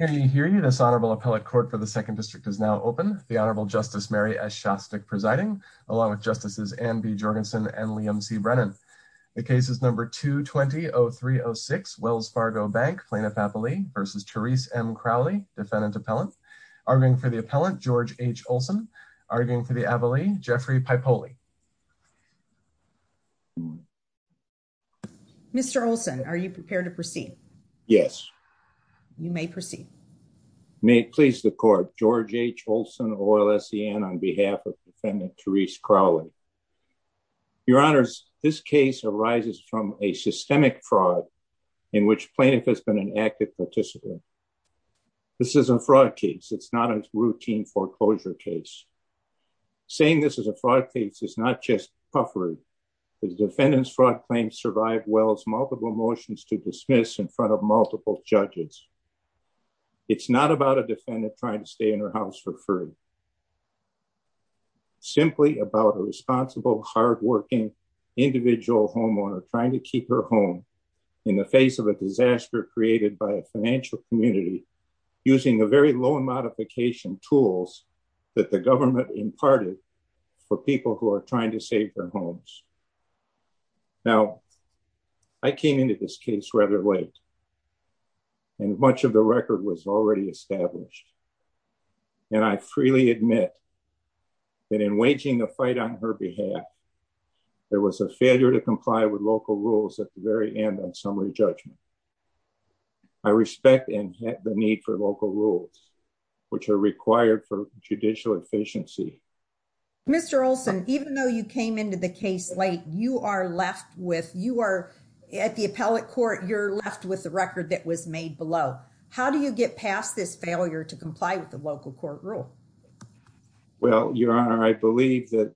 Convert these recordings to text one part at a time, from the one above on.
Can you hear you? This Honorable Appellate Court for the 2nd District is now open. The Honorable Justice Mary S. Shostak presiding, along with Justices Anne B. Jorgensen and Liam C. Brennan. The case is number 220306, Wells Fargo Bank, Plaintiff-Appellee v. Therese M. Crowley, Defendant-Appellant. Arguing for the Appellant, George H. Olson. Arguing for the Appellee, Jeffrey Paipoli. Mr. Olson, are you prepared to proceed? Yes. You may proceed. May it please the Court, George H. Olson of OLSCN on behalf of Defendant Therese Crowley. Your Honors, this case arises from a systemic fraud in which plaintiff has been an active participant. This is a fraud case. It's not a routine foreclosure case. Saying this is a fraud case is not just puffery. The Defendant's fraud claim survived Wells' multiple motions to dismiss in front of multiple judges. It's not about a Defendant trying to stay in her house for free. It's simply about a responsible, hard-working individual homeowner trying to keep her home in the face of a disaster created by a financial community using the very low modification tools that the government imparted for people who are trying to save their homes. Now, I came into this case rather late. And much of the record was already established. And I freely admit that in waging a fight on her behalf, there was a failure to comply with local rules at the very end on summary judgment. I respect the need for local rules, which are required for judicial efficiency. Mr. Olson, even though you came into the case late, you are left with, you are, at the appellate court, you're left with the record that was made below. How do you get past this failure to comply with the local court rule? Well, Your Honor, I believe that,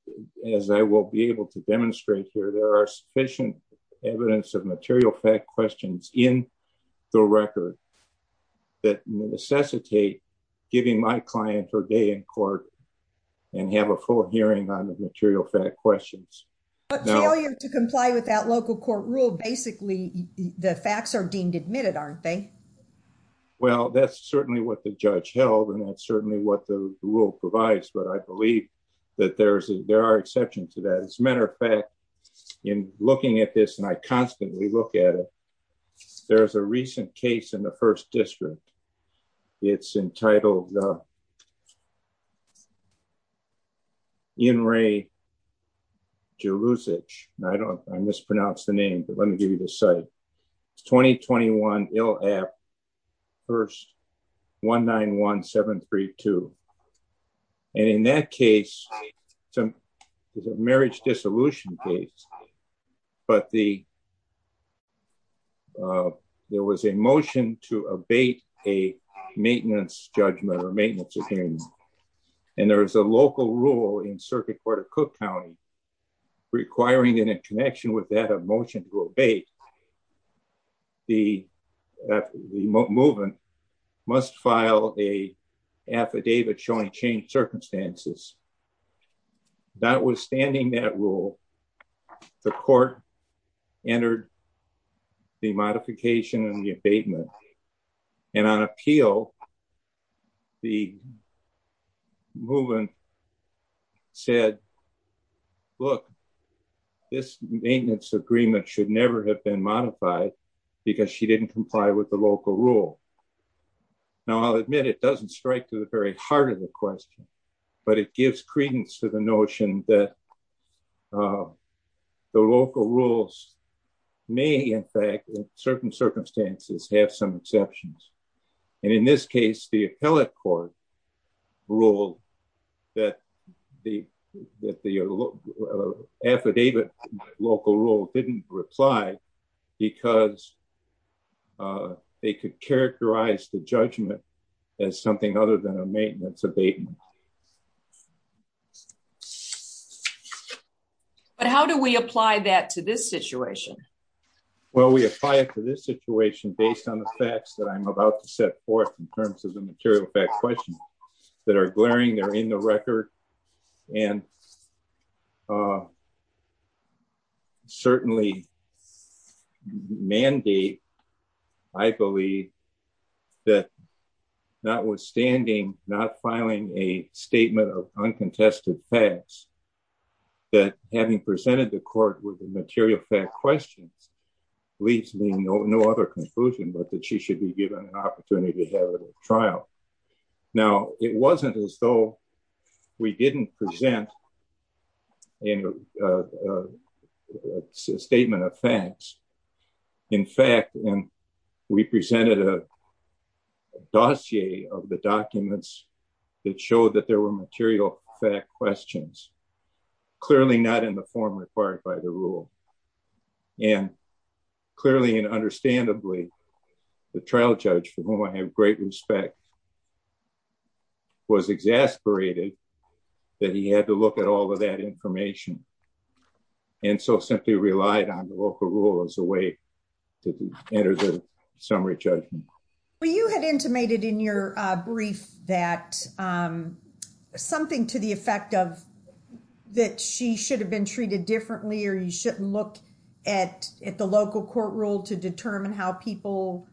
as I will be able to demonstrate here, there are sufficient evidence of material fact questions in the record that necessitate giving my client her day in court and have a full hearing on the material fact questions. But failure to comply with that local court rule, basically the facts are deemed admitted, aren't they? Well, that's certainly what the judge held, and that's certainly what the rule provides. But I believe that there are exceptions to that. As a matter of fact, in looking at this, and I constantly look at it, there's a recent case in the 1st District. It's entitled In Re Jeruzic. I don't, I mispronounced the name, but let me give you the site. It's 2021 Ill App, 1st, 191732. And in that case, it's a marriage dissolution case, but there was a motion to abate a maintenance judgment or maintenance opinion. And there is a local rule in Circuit Court of Cook County requiring in a connection with that a motion to abate, the movement must file a affidavit showing changed circumstances. Notwithstanding that rule, the court entered the modification and the abatement. And on appeal, the movement said, look, this maintenance agreement should never have been modified because she didn't comply with the local rule. Now I'll admit it doesn't strike to the very heart of the question, but it gives credence to the notion that the local rules may in fact in certain circumstances have some exceptions. And in this case, the appellate court ruled that the affidavit local rule didn't reply because they could characterize the judgment as something other than a maintenance abatement. But how do we apply that to this situation? Well, we apply it to this situation based on the facts that I'm about to set forth in terms of the material fact question that are glaring. They're in the record and certainly mandate, I believe, that notwithstanding not filing a statement of uncontested facts, that having presented the court with the material fact questions leaves me no other conclusion, but that she should be given an opportunity to have a trial. Now, it wasn't as though we didn't present a statement of facts. In fact, we presented a dossier of the documents that showed that there were material fact questions, clearly not in the form required by the rule. And clearly and understandably, the trial judge, for whom I have great respect, was exasperated that he had to look at all of that information and so simply relied on the local rule as a way to enter the summary judgment. Well, you had intimated in your brief that something to the effect of that she should have been treated differently or you shouldn't look at the local court rule to determine how people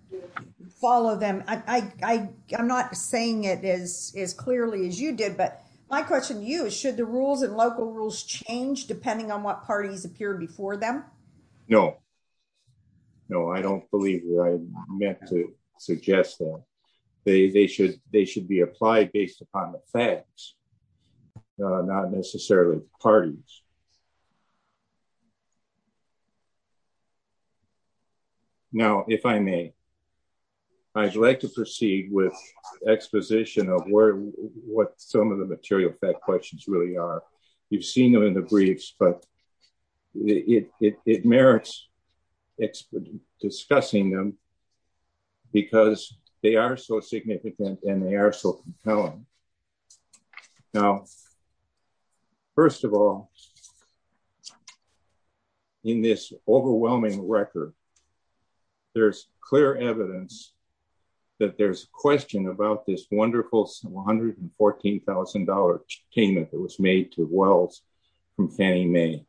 follow them. I'm not saying it as clearly as you did, but my question to you is should the rules and local rules change depending on what parties appear before them? No. No, I don't believe that I meant to suggest that. They should be applied based upon the facts, not necessarily parties. Now, if I may, I'd like to proceed with exposition of what some of the material fact questions really are. You've seen them in the briefs, but it merits discussing them because they are so significant and they are so compelling. Now, first of all, in this overwhelming record, there's clear evidence that there's a question about this wonderful $114,000 payment that was made to Wells from Fannie Mae.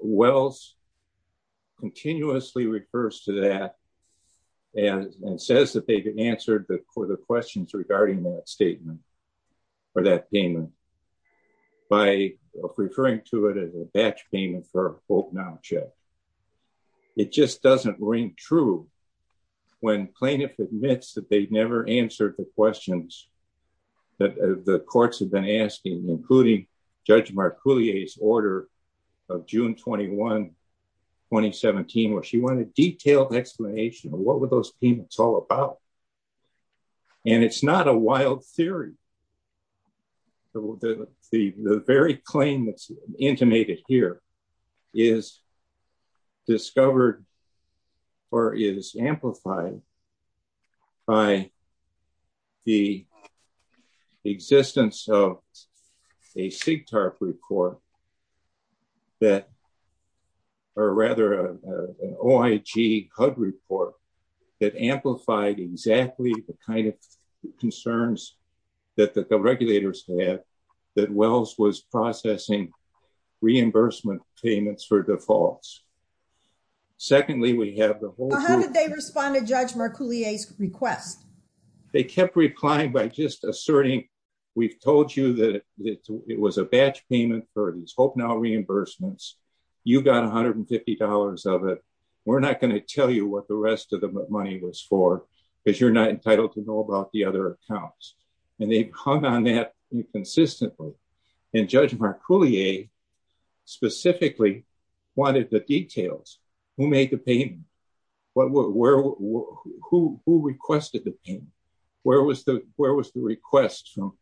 Wells continuously refers to that and says that they've been answered for the questions regarding that statement or that payment by referring to it as a batch payment for both now and should. It just doesn't ring true when plaintiff admits that they never answered the questions that the courts have been asking, including Judge Mark Coulier's order of June 21, 2017, where she wanted a detailed explanation of what were those payments all about. And it's not a wild theory. The very claim that's intimated here is discovered, or is amplified, by the existence of a SIGTARP report that, or rather an OIG HUD report that amplified exactly the kind of concerns that the regulators had that Wells was processing reimbursement payments for defaults. Secondly, we have the whole- How did they respond to Judge Mark Coulier's request? They kept replying by just asserting, we've told you that it was a batch payment for these Hope Now reimbursements. You've got $150 of it. We're not going to tell you what the rest of the money was for because you're not entitled to know about the other accounts. They hung on that inconsistently. And Judge Mark Coulier specifically wanted the details. Who made the payment? Who requested the payment? Where was the request from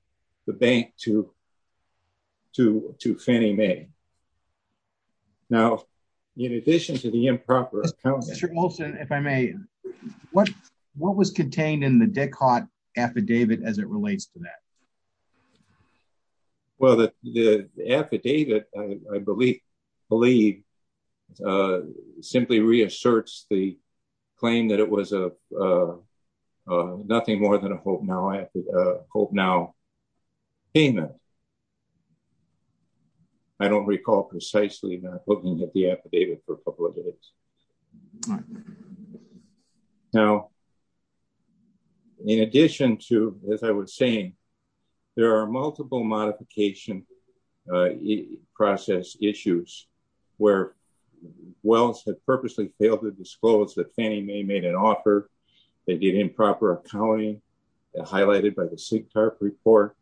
the bank to Fannie Mae? Now, in addition to the improper- Mr. Olson, if I may, what was contained in the DECOD affidavit as it relates to that? Well, the affidavit, I believe, simply reasserts the claim that it was nothing more than a Hope Now payment. I don't recall precisely not looking at the affidavit for a couple of days. Now, in addition to, as I was saying, there are multiple modification process issues where Wells had purposely failed to disclose that Fannie Mae made an offer. They did improper accounting, highlighted by the SIGTARP report.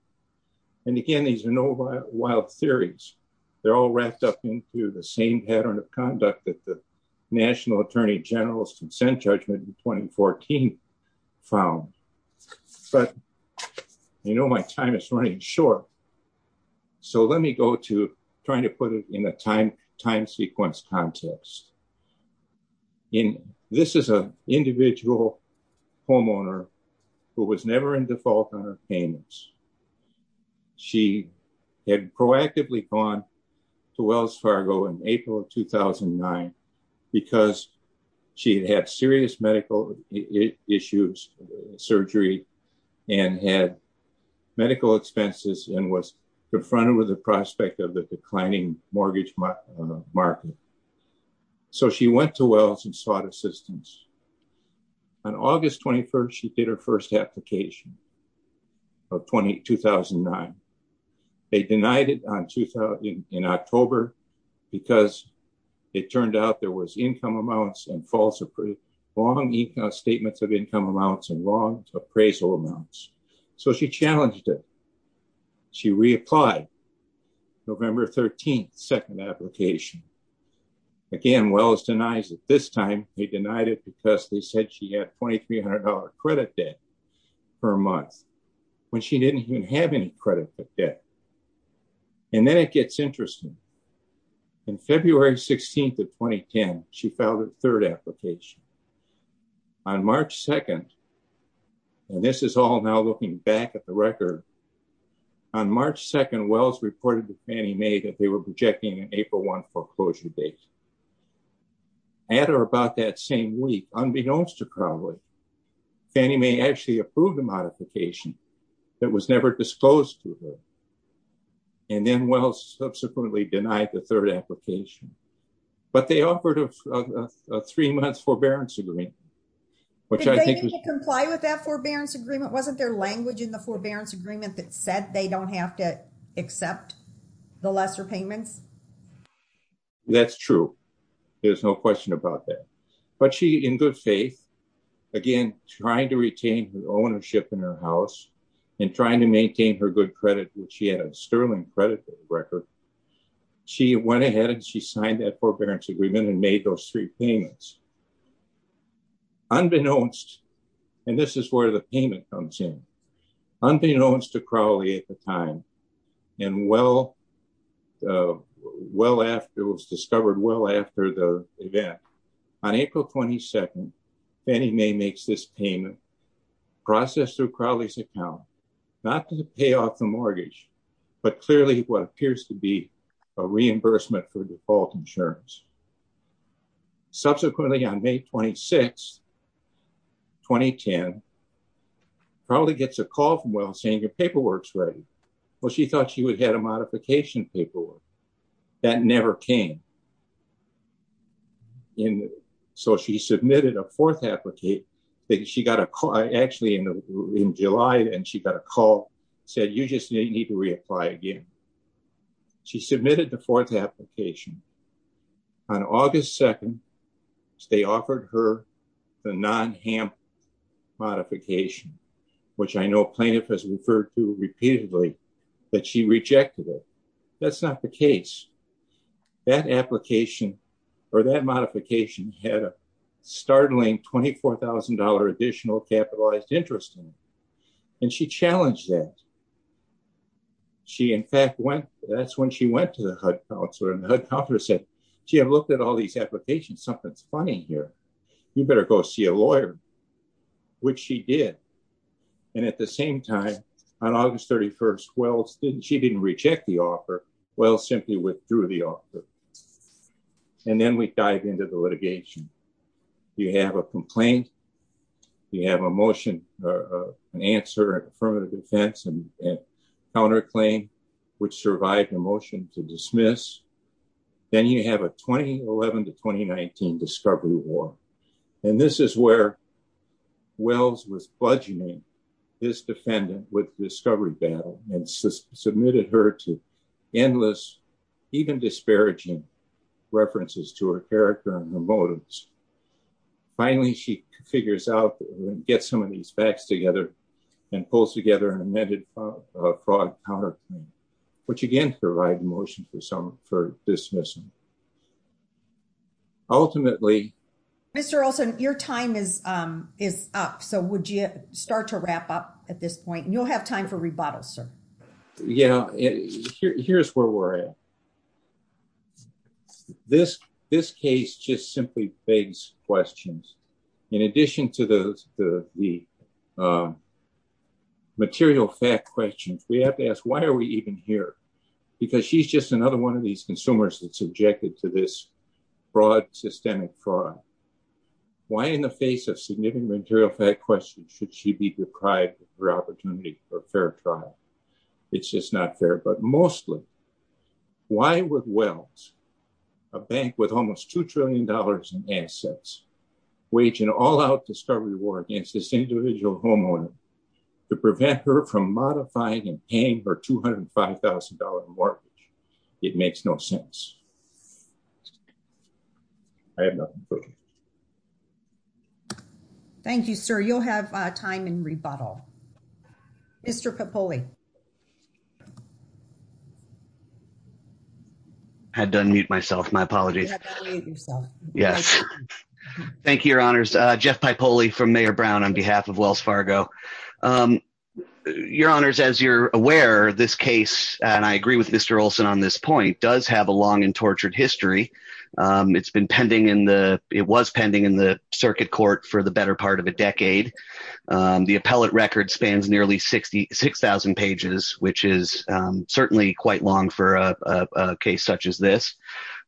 And again, these are no wild theories. They're all wrapped up into the same pattern of conduct that the National Attorney General's consent judgment in 2014 found. But, you know, my time is running short. So let me go to trying to put it in a time sequence context. This is an individual homeowner who was never in default on her payments. She had proactively gone to Wells Fargo in April of 2009 because she had serious medical issues, surgery, and had medical expenses and was confronted with the prospect of a declining mortgage market. So she went to Wells and sought assistance. On August 21st, she did her first application of 2009. They denied it in October because it turned out there was income amounts and false, long statements of income amounts and long appraisal amounts. So she challenged it. She reapplied November 13th, second application. Again, Wells denies it this time. He denied it because they said she had $2,300 credit debt per month when she didn't even have any credit debt. And then it gets interesting. In February 16th of 2010, she filed her third application. On March 2nd, and this is all now looking back at the record, on March 2nd, Wells reported to Fannie Mae that they were projecting an April 1 foreclosure date. At or about that same week, unbeknownst to Crowley, Fannie Mae actually approved a modification that was never disposed to her. And then Wells subsequently denied the third application. But they offered a three months forbearance agreement. Did they need to comply with that forbearance agreement? Wasn't there language in the forbearance agreement that said they don't have to accept the lesser payments? That's true. There's no question about that. But she, in good faith, again, trying to retain her ownership in her house and trying to maintain her good credit, which she had a sterling credit record. She went ahead and she signed that forbearance agreement and made those three payments. Unbeknownst, and this is where the payment comes in, unbeknownst to Crowley at the time, and well after, it was discovered well after the event. On April 22nd, Fannie Mae makes this payment, processed through Crowley's account, not to pay off the mortgage, but clearly what appears to be a reimbursement for default insurance. Subsequently, on May 26th, 2010, Crowley gets a call from Wells saying your paperwork's ready. Well, she thought she would have a modification paperwork. That never came. And so she submitted a fourth application. She got a call, actually in July, and she got a call, said you just need to reapply again. She submitted the fourth application. On August 2nd, they offered her the non-HAMP modification, which I know plaintiff has referred to repeatedly, but she rejected it. That's not the case. That application or that modification had a startling $24,000 additional capitalized interest in it. And she challenged that. She in fact went, that's when she went to the HUD counselor and the HUD counselor said, gee, I've looked at all these applications. Something's funny here. You better go see a lawyer, which she did. And at the same time, on August 31st, Wells didn't, she didn't reject the offer. Wells simply withdrew the offer. And then we dive into the litigation. You have a complaint. You have a motion, an answer, affirmative defense and counterclaim, which survived the motion to dismiss. Then you have a 2011 to 2019 discovery war. And this is where Wells was bludgeoning his defendant with discovery battle and submitted her to endless, even disparaging references to her character and her motives. Finally, she figures out, gets some of these facts together and pulls together an amended fraud counterclaim, which again, survived the motion for dismissal. Ultimately. Mr. Olson, your time is up. So would you start to wrap up at this point? You'll have time for rebuttal, sir. Yeah. Here's where we're at. This case just simply begs questions. In addition to the material fact questions, we have to ask, why are we even here? Because she's just another one of these consumers that's subjected to this fraud, systemic fraud. Why, in the face of significant material fact questions, should she be deprived of her opportunity for a fair trial? It's just not fair. But mostly, why would Wells, a bank with almost $2 trillion in assets, wage an all-out discovery war against this individual homeowner to prevent her from modifying and paying her $205,000 mortgage? It makes no sense. I have nothing further. Thank you, sir. You'll have time in rebuttal. Mr. Capulli. I had to unmute myself. My apologies. You had to unmute yourself. Yes. Thank you, Your Honors. Jeff Pipoli from Mayor Brown on behalf of Wells Fargo. Your Honors, as you're aware, this case, and I agree with Mr. Olson on this point, does have a long and tortured history. It was pending in the circuit court for the better part of a decade. The appellate record spans nearly 6,000 pages, which is certainly quite long for a case such as this.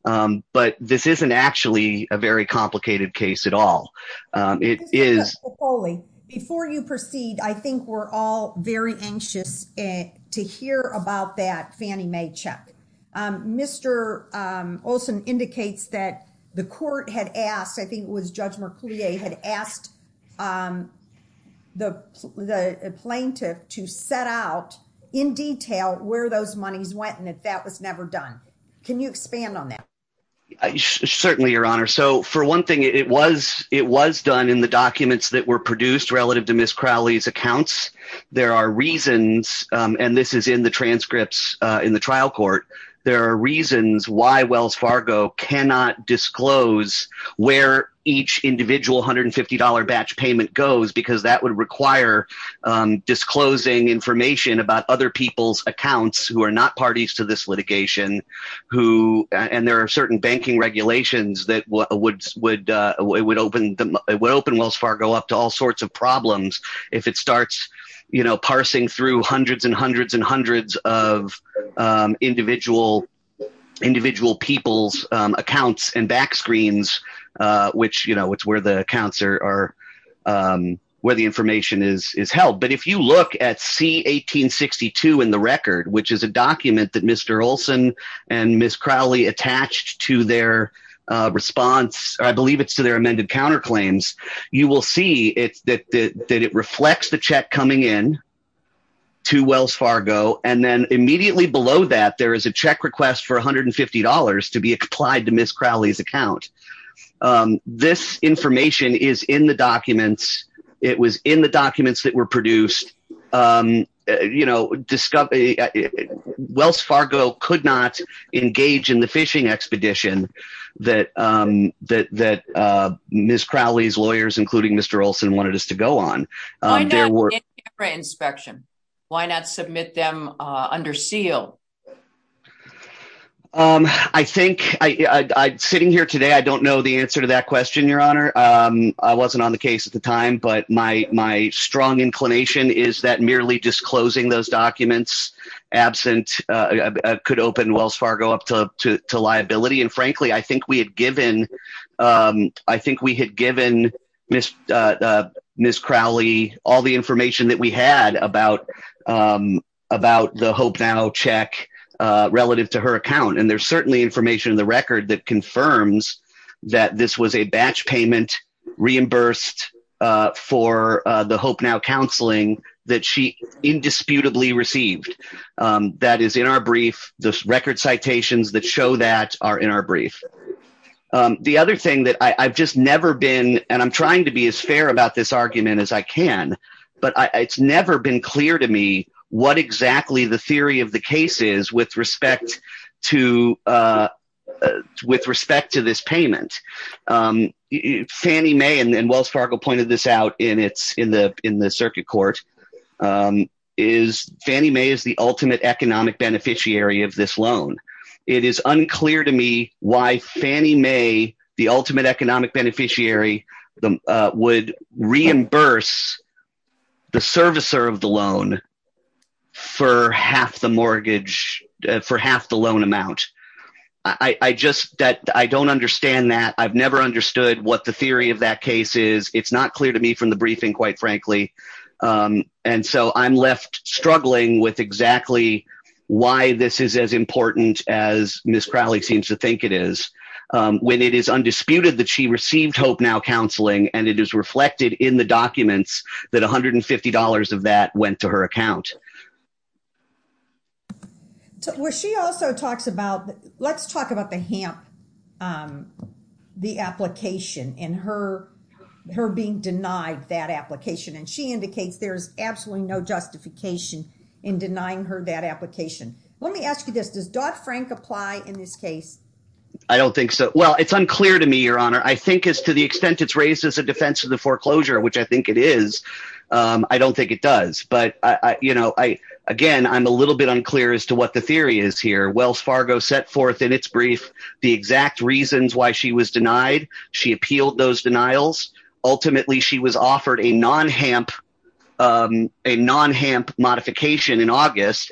But this isn't actually a very complicated case at all. It is. Mr. Pipoli, before you proceed, I think we're all very anxious to hear about that Fannie Mae check. Mr. Olson indicates that the court had asked, I think it was Judge Merclier, had asked the plaintiff to set out in detail where those monies went and that that was never done. Can you expand on that? Certainly, Your Honor. So, for one thing, it was done in the documents that were produced relative to Ms. Crowley's accounts. There are reasons, and this is in the transcripts in the trial court, there are reasons why Wells Fargo cannot disclose where each individual $150 batch payment goes because that would require disclosing information about other people's accounts who are not parties to this litigation. And there are certain banking regulations that would open Wells Fargo up to all sorts of problems if it starts, you know, parsing through hundreds and hundreds and hundreds of individual people's accounts and back screens, which, you know, it's where the accounts are, where the information is held. But if you look at C-1862 in the record, which is a document that Mr. Olson and Ms. Crowley attached to their response, I believe it's to their amended counterclaims, you will see that it reflects the check coming in to Wells Fargo. And then immediately below that, there is a check request for $150 to be applied to Ms. Crowley's account. This information is in the documents. It was in the documents that were produced. You know, Wells Fargo could not engage in the phishing expedition that Ms. Crowley's lawyers, including Mr. Olson, wanted us to go on. Why not in camera inspection? Why not submit them under seal? I think sitting here today, I don't know the answer to that question, Your Honor. I wasn't on the case at the time, but my strong inclination is that merely disclosing those documents absent could open Wells Fargo up to liability. And frankly, I think we had given Ms. Crowley all the information that we had about the Hope Now check relative to her account. And there's certainly information in the record that confirms that this was a batch payment reimbursed for the Hope Now counseling that she indisputably received. That is in our brief. The record citations that show that are in our brief. The other thing that I've just never been, and I'm trying to be as fair about this argument as I can, but it's never been clear to me what exactly the theory of the case is with respect to this payment. Fannie Mae, and Wells Fargo pointed this out in the circuit court, is Fannie Mae is the ultimate economic beneficiary of this loan. It is unclear to me why Fannie Mae, the ultimate economic beneficiary, would reimburse the servicer of the loan for half the mortgage, for half the loan amount. I don't understand that. I've never understood what the theory of that case is. It's not clear to me from the briefing, quite frankly. And so I'm left struggling with exactly why this is as important as Ms. Crowley seems to think it is. When it is undisputed that she received Hope Now counseling, and it is reflected in the documents that $150 of that went to her account. Well, she also talks about, let's talk about the HAMP, the application and her being denied that application. And she indicates there's absolutely no justification in denying her that application. Let me ask you this. Does Dodd-Frank apply in this case? I don't think so. Well, it's unclear to me, Your Honor. I think as to the extent it's raised as a defense of the foreclosure, which I think it is, I don't think it does. But, you know, again, I'm a little bit unclear as to what the theory is here. Wells Fargo set forth in its brief the exact reasons why she was denied. She appealed those denials. Ultimately, she was offered a non-HAMP modification in August.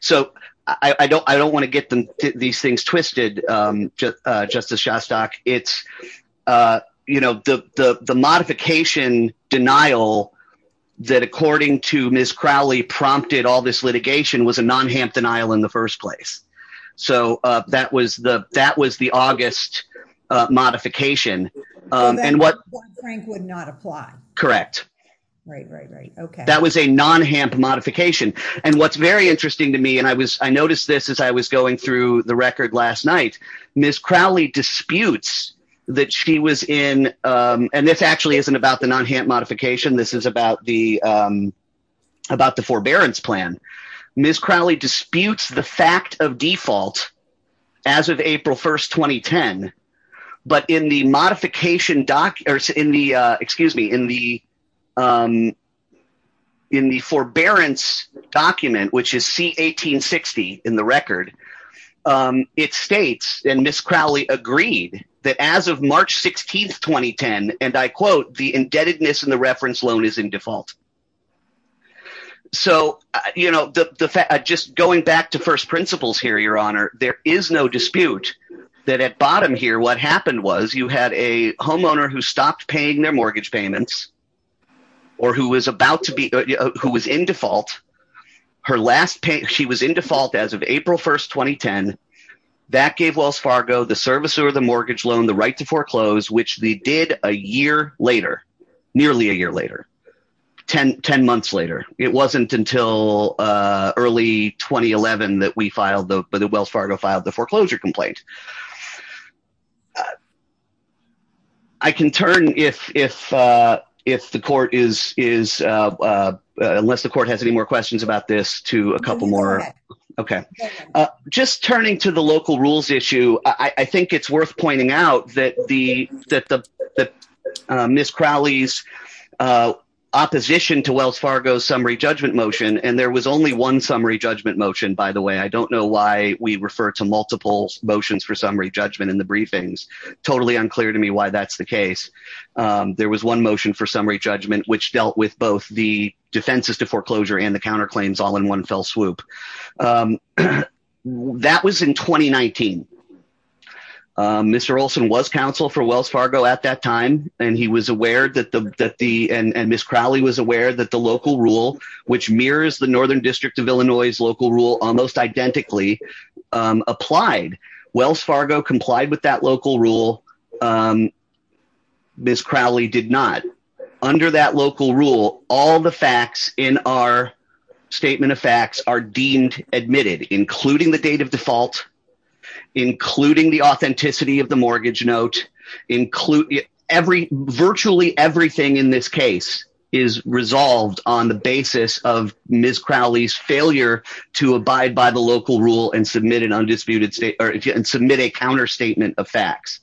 So I don't want to get these things twisted, Justice Shostak. It's, you know, the modification denial that, according to Ms. Crowley, prompted all this litigation was a non-HAMP denial in the first place. So that was the August modification. Dodd-Frank would not apply. Correct. That was a non-HAMP modification. And what's very interesting to me, and I noticed this as I was going through the record last night, Ms. Crowley disputes that she was in, and this actually isn't about the non-HAMP modification. This is about the forbearance plan. Ms. Crowley disputes the fact of default as of April 1st, 2010. But in the modification, excuse me, in the forbearance document, which is C-1860 in the record, it states, and Ms. Crowley agreed, that as of March 16th, 2010, and I quote, the indebtedness in the reference loan is in default. So, you know, just going back to first principles here, Your Honor, there is no dispute that at bottom here, what happened was, you had a homeowner who stopped paying their mortgage payments, or who was about to be, who was in default. Her last pay, she was in default as of April 1st, 2010. That gave Wells Fargo, the servicer of the mortgage loan, the right to foreclose, which they did a year later. Nearly a year later. Ten months later. It wasn't until early 2011 that we filed the, that Wells Fargo filed the foreclosure complaint. I can turn if, if, if the court is, is, unless the court has any more questions about this, to a couple more. Okay. Just turning to the local rules issue, I think it's worth pointing out that the, that the, that Ms. Crowley's opposition to Wells Fargo's summary judgment motion, and there was only one summary judgment motion, by the way, I don't know why we refer to multiple motions. For summary judgment in the briefings. Totally unclear to me why that's the case. There was one motion for summary judgment, which dealt with both the defenses to foreclosure and the counterclaims all in one fell swoop. That was in 2019. Mr. Olson was counsel for Wells Fargo at that time, and he was aware that the, that the, and Ms. Crowley was aware that the local rule, which mirrors the Northern District of Illinois's local rule almost identically applied. Wells Fargo complied with that local rule. Ms. Crowley did not. Under that local rule, all the facts in our statement of facts are deemed admitted, including the date of default, including the authenticity of the mortgage note. Include every virtually everything in this case is resolved on the basis of Ms Crowley's failure to abide by the local rule and submit an undisputed state or submit a counter statement of facts.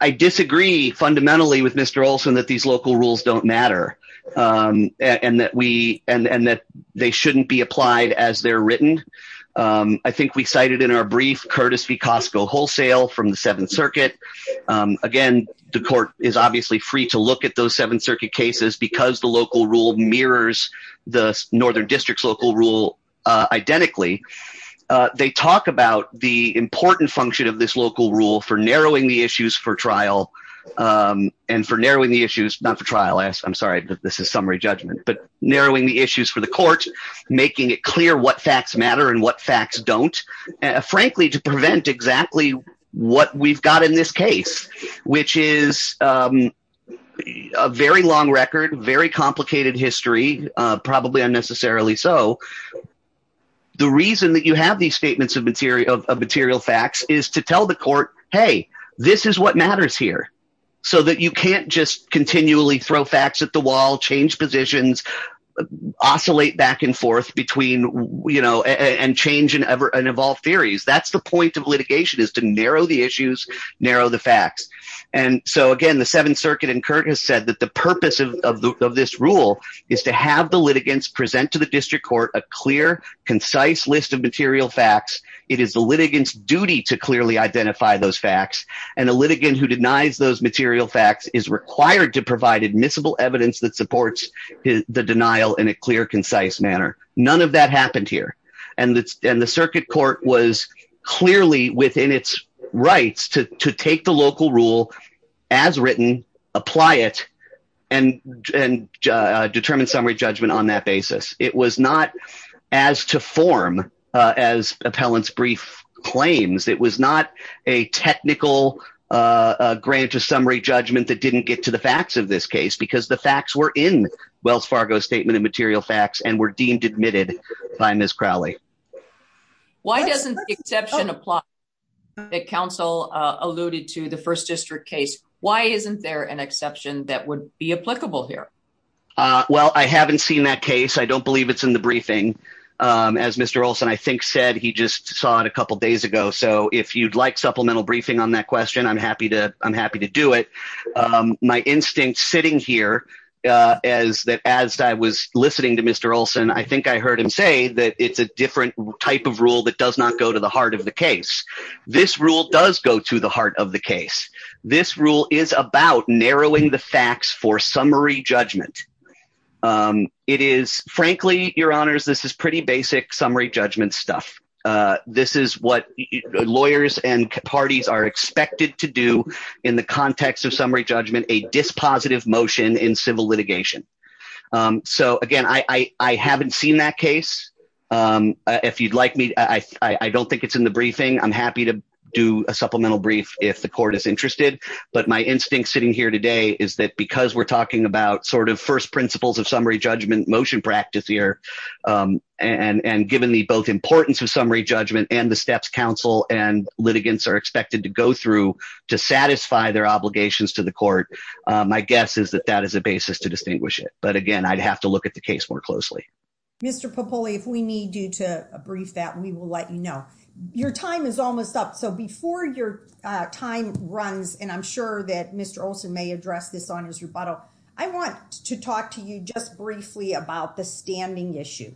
I disagree fundamentally with Mr Olson that these local rules don't matter. And that we, and that they shouldn't be applied as they're written. I think we cited in our brief Curtis v. Costco wholesale from the Seventh Circuit. Again, the court is obviously free to look at those Seventh Circuit cases because the local rule mirrors the Northern District's local rule identically. They talk about the important function of this local rule for narrowing the issues for trial. And for narrowing the issues, not for trial, I'm sorry, but this is summary judgment, but narrowing the issues for the court, making it clear what facts matter and what facts don't. Frankly, to prevent exactly what we've got in this case, which is a very long record, very complicated history, probably unnecessarily so. The reason that you have these statements of material facts is to tell the court, hey, this is what matters here. So that you can't just continually throw facts at the wall, change positions, oscillate back and forth between, you know, and change and evolve theories. That's the point of litigation is to narrow the issues, narrow the facts. And so again, the Seventh Circuit and Curtis said that the purpose of this rule is to have the litigants present to the district court a clear, concise list of material facts. It is the litigants duty to clearly identify those facts and a litigant who denies those material facts is required to provide admissible evidence that supports the denial in a clear, concise manner. None of that happened here. And the circuit court was clearly within its rights to take the local rule as written, apply it and determine summary judgment on that basis. It was not as to form as appellant's brief claims. It was not a technical grant of summary judgment that didn't get to the facts of this case because the facts were in Wells Fargo statement of material facts and were deemed admitted by Ms. Crowley. Why doesn't the exception apply that counsel alluded to the first district case? Why isn't there an exception that would be applicable here? Well, I haven't seen that case. I don't believe it's in the briefing. As Mr. Olson, I think, said he just saw it a couple of days ago. So if you'd like supplemental briefing on that question, I'm happy to. I'm happy to do it. My instinct sitting here is that as I was listening to Mr. Olson, I think I heard him say that it's a different type of rule that does not go to the heart of the case. This rule does go to the heart of the case. This rule is about narrowing the facts for summary judgment. It is, frankly, your honors, this is pretty basic summary judgment stuff. This is what lawyers and parties are expected to do in the context of summary judgment, a dispositive motion in civil litigation. So, again, I haven't seen that case. If you'd like me, I don't think it's in the briefing. I'm happy to do a supplemental brief if the court is interested. But my instinct sitting here today is that because we're talking about sort of first principles of summary judgment motion practice here, and given the both importance of summary judgment and the steps counsel and litigants are expected to go through to satisfy their obligations to the court, my guess is that that is a basis to distinguish it. But again, I'd have to look at the case more closely. Mr. Popoli, if we need you to brief that, we will let you know. Your time is almost up. So, before your time runs, and I'm sure that Mr. Olson may address this on his rebuttal, I want to talk to you just briefly about the standing issue.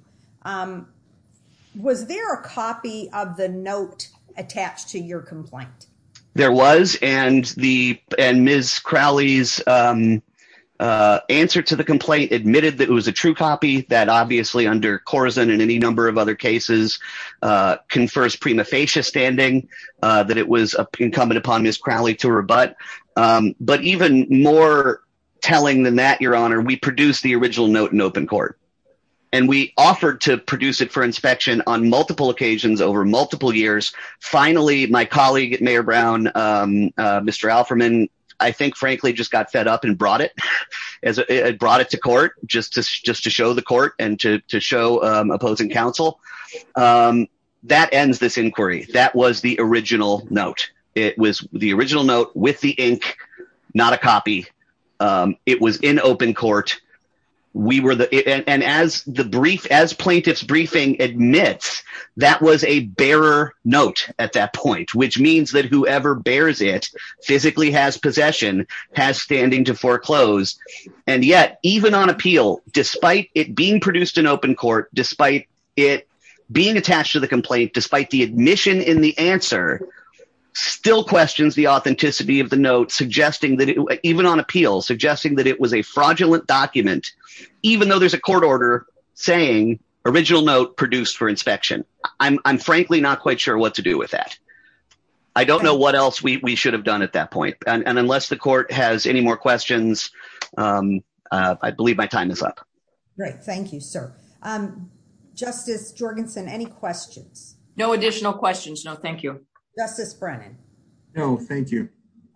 Was there a copy of the note attached to your complaint? There was, and Ms. Crowley's answer to the complaint admitted that it was a true copy, that obviously under Corzine and any number of other cases confers prima facie standing, that it was incumbent upon Ms. Crowley to rebut. But even more telling than that, Your Honor, we produced the original note in open court. And we offered to produce it for inspection on multiple occasions over multiple years. Finally, my colleague, Mayor Brown, Mr. Alferman, I think, frankly, just got fed up and brought it to court just to show the court and to show opposing counsel, that ends this inquiry. That was the original note. It was the original note with the ink, not a copy. It was in open court. And as plaintiff's briefing admits, that was a bearer note at that point, which means that whoever bears it physically has possession, has standing to foreclose. And yet, even on appeal, despite it being produced in open court, despite it being attached to the complaint, despite the admission in the answer, still questions the authenticity of the note, even on appeal, suggesting that it was a fraudulent document, even though there's a court order saying original note produced for inspection. I'm frankly not quite sure what to do with that. I don't know what else we should have done at that point. And unless the court has any more questions, I believe my time is up. Great. Thank you, sir. Justice Jorgensen, any questions? No additional questions. No, thank you. Justice Brennan? No, thank you.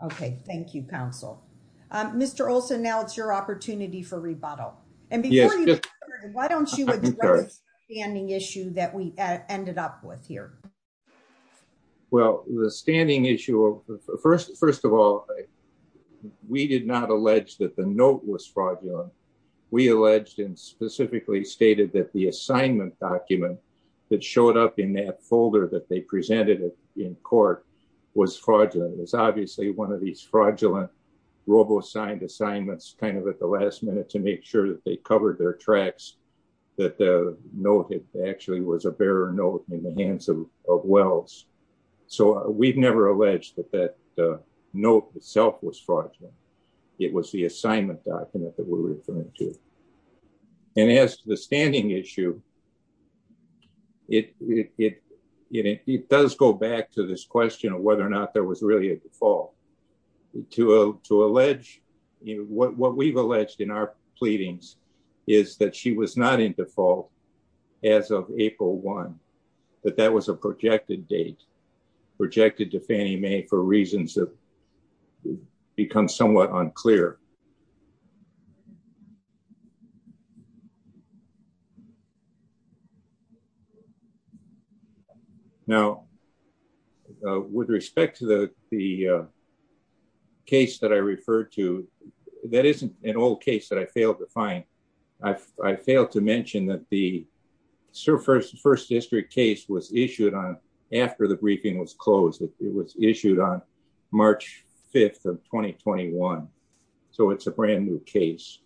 Okay. Thank you, counsel. Mr. Olson, now it's your opportunity for rebuttal. And before you do that, why don't you address the standing issue that we ended up with here? Well, the standing issue, first of all, we did not allege that the note was fraudulent. We alleged and specifically stated that the assignment document that showed up in that folder that they presented in court was fraudulent. It was obviously one of these fraudulent robo-signed assignments, kind of at the last minute to make sure that they covered their tracks, that the note actually was a bearer note in the hands of Wells. So we've never alleged that that note itself was fraudulent. It was the assignment document that we're referring to. And as to the standing issue, it does go back to this question of whether or not there was really a default. To allege, what we've alleged in our pleadings is that she was not in default as of April 1, that that was a projected date, projected to Fannie Mae for reasons that become somewhat unclear. Now, with respect to the case that I referred to, that isn't an old case that I failed to find. I failed to mention that the first district case was issued after the briefing was closed. It was issued on March 5th of 2021. So it's a brand new case.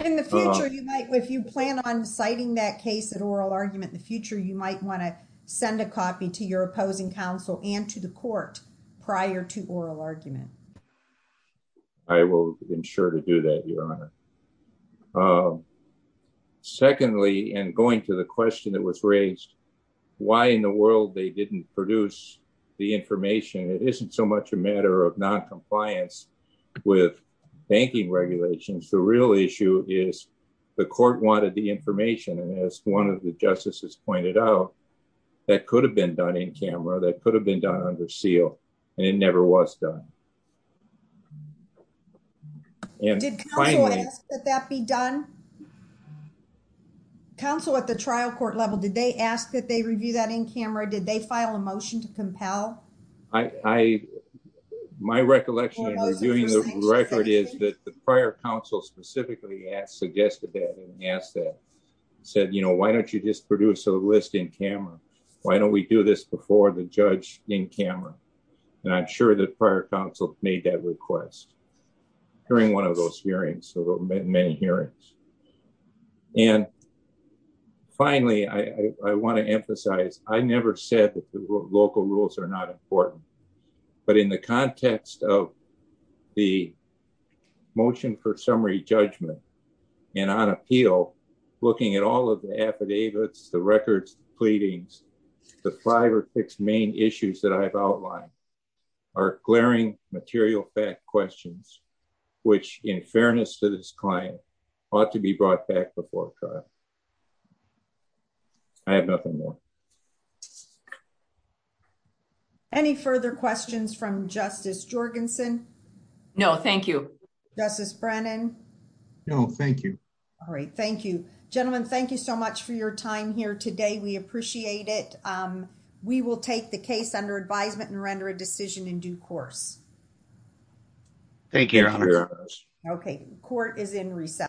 In the future, if you plan on citing that case at oral argument in the future, you might want to send a copy to your opposing counsel and to the court prior to oral argument. I will ensure to do that, Your Honor. Secondly, and going to the question that was raised, why in the world they didn't produce the information? It isn't so much a matter of noncompliance with banking regulations. The real issue is the court wanted the information. And as one of the justices pointed out, that could have been done in camera, that could have been done under seal, and it never was done. And finally- Did counsel ask that that be done? Counsel at the trial court level, did they ask that they review that in camera? Did they file a motion to compel? My recollection in reviewing the record is that the prior counsel specifically asked, suggested that and asked that, said, you know, why don't you just produce a list in camera? Why don't we do this before the judge in camera? And I'm sure the prior counsel made that request during one of those hearings, so many hearings. And finally, I want to emphasize, I never said that the local rules are not important. But in the context of the motion for summary judgment and on appeal, looking at all of the affidavits, the records, the pleadings, the five or six main issues that I've outlined are glaring material fact questions, which in fairness to this client, ought to be brought back before trial. I have nothing more. Any further questions from Justice Jorgensen? No, thank you. Justice Brennan? No, thank you. All right, thank you. Gentlemen, thank you so much for your time here today. We appreciate it. We will take the case under advisement and render a decision in due course. Thank you, Your Honor. Okay, court is in recess.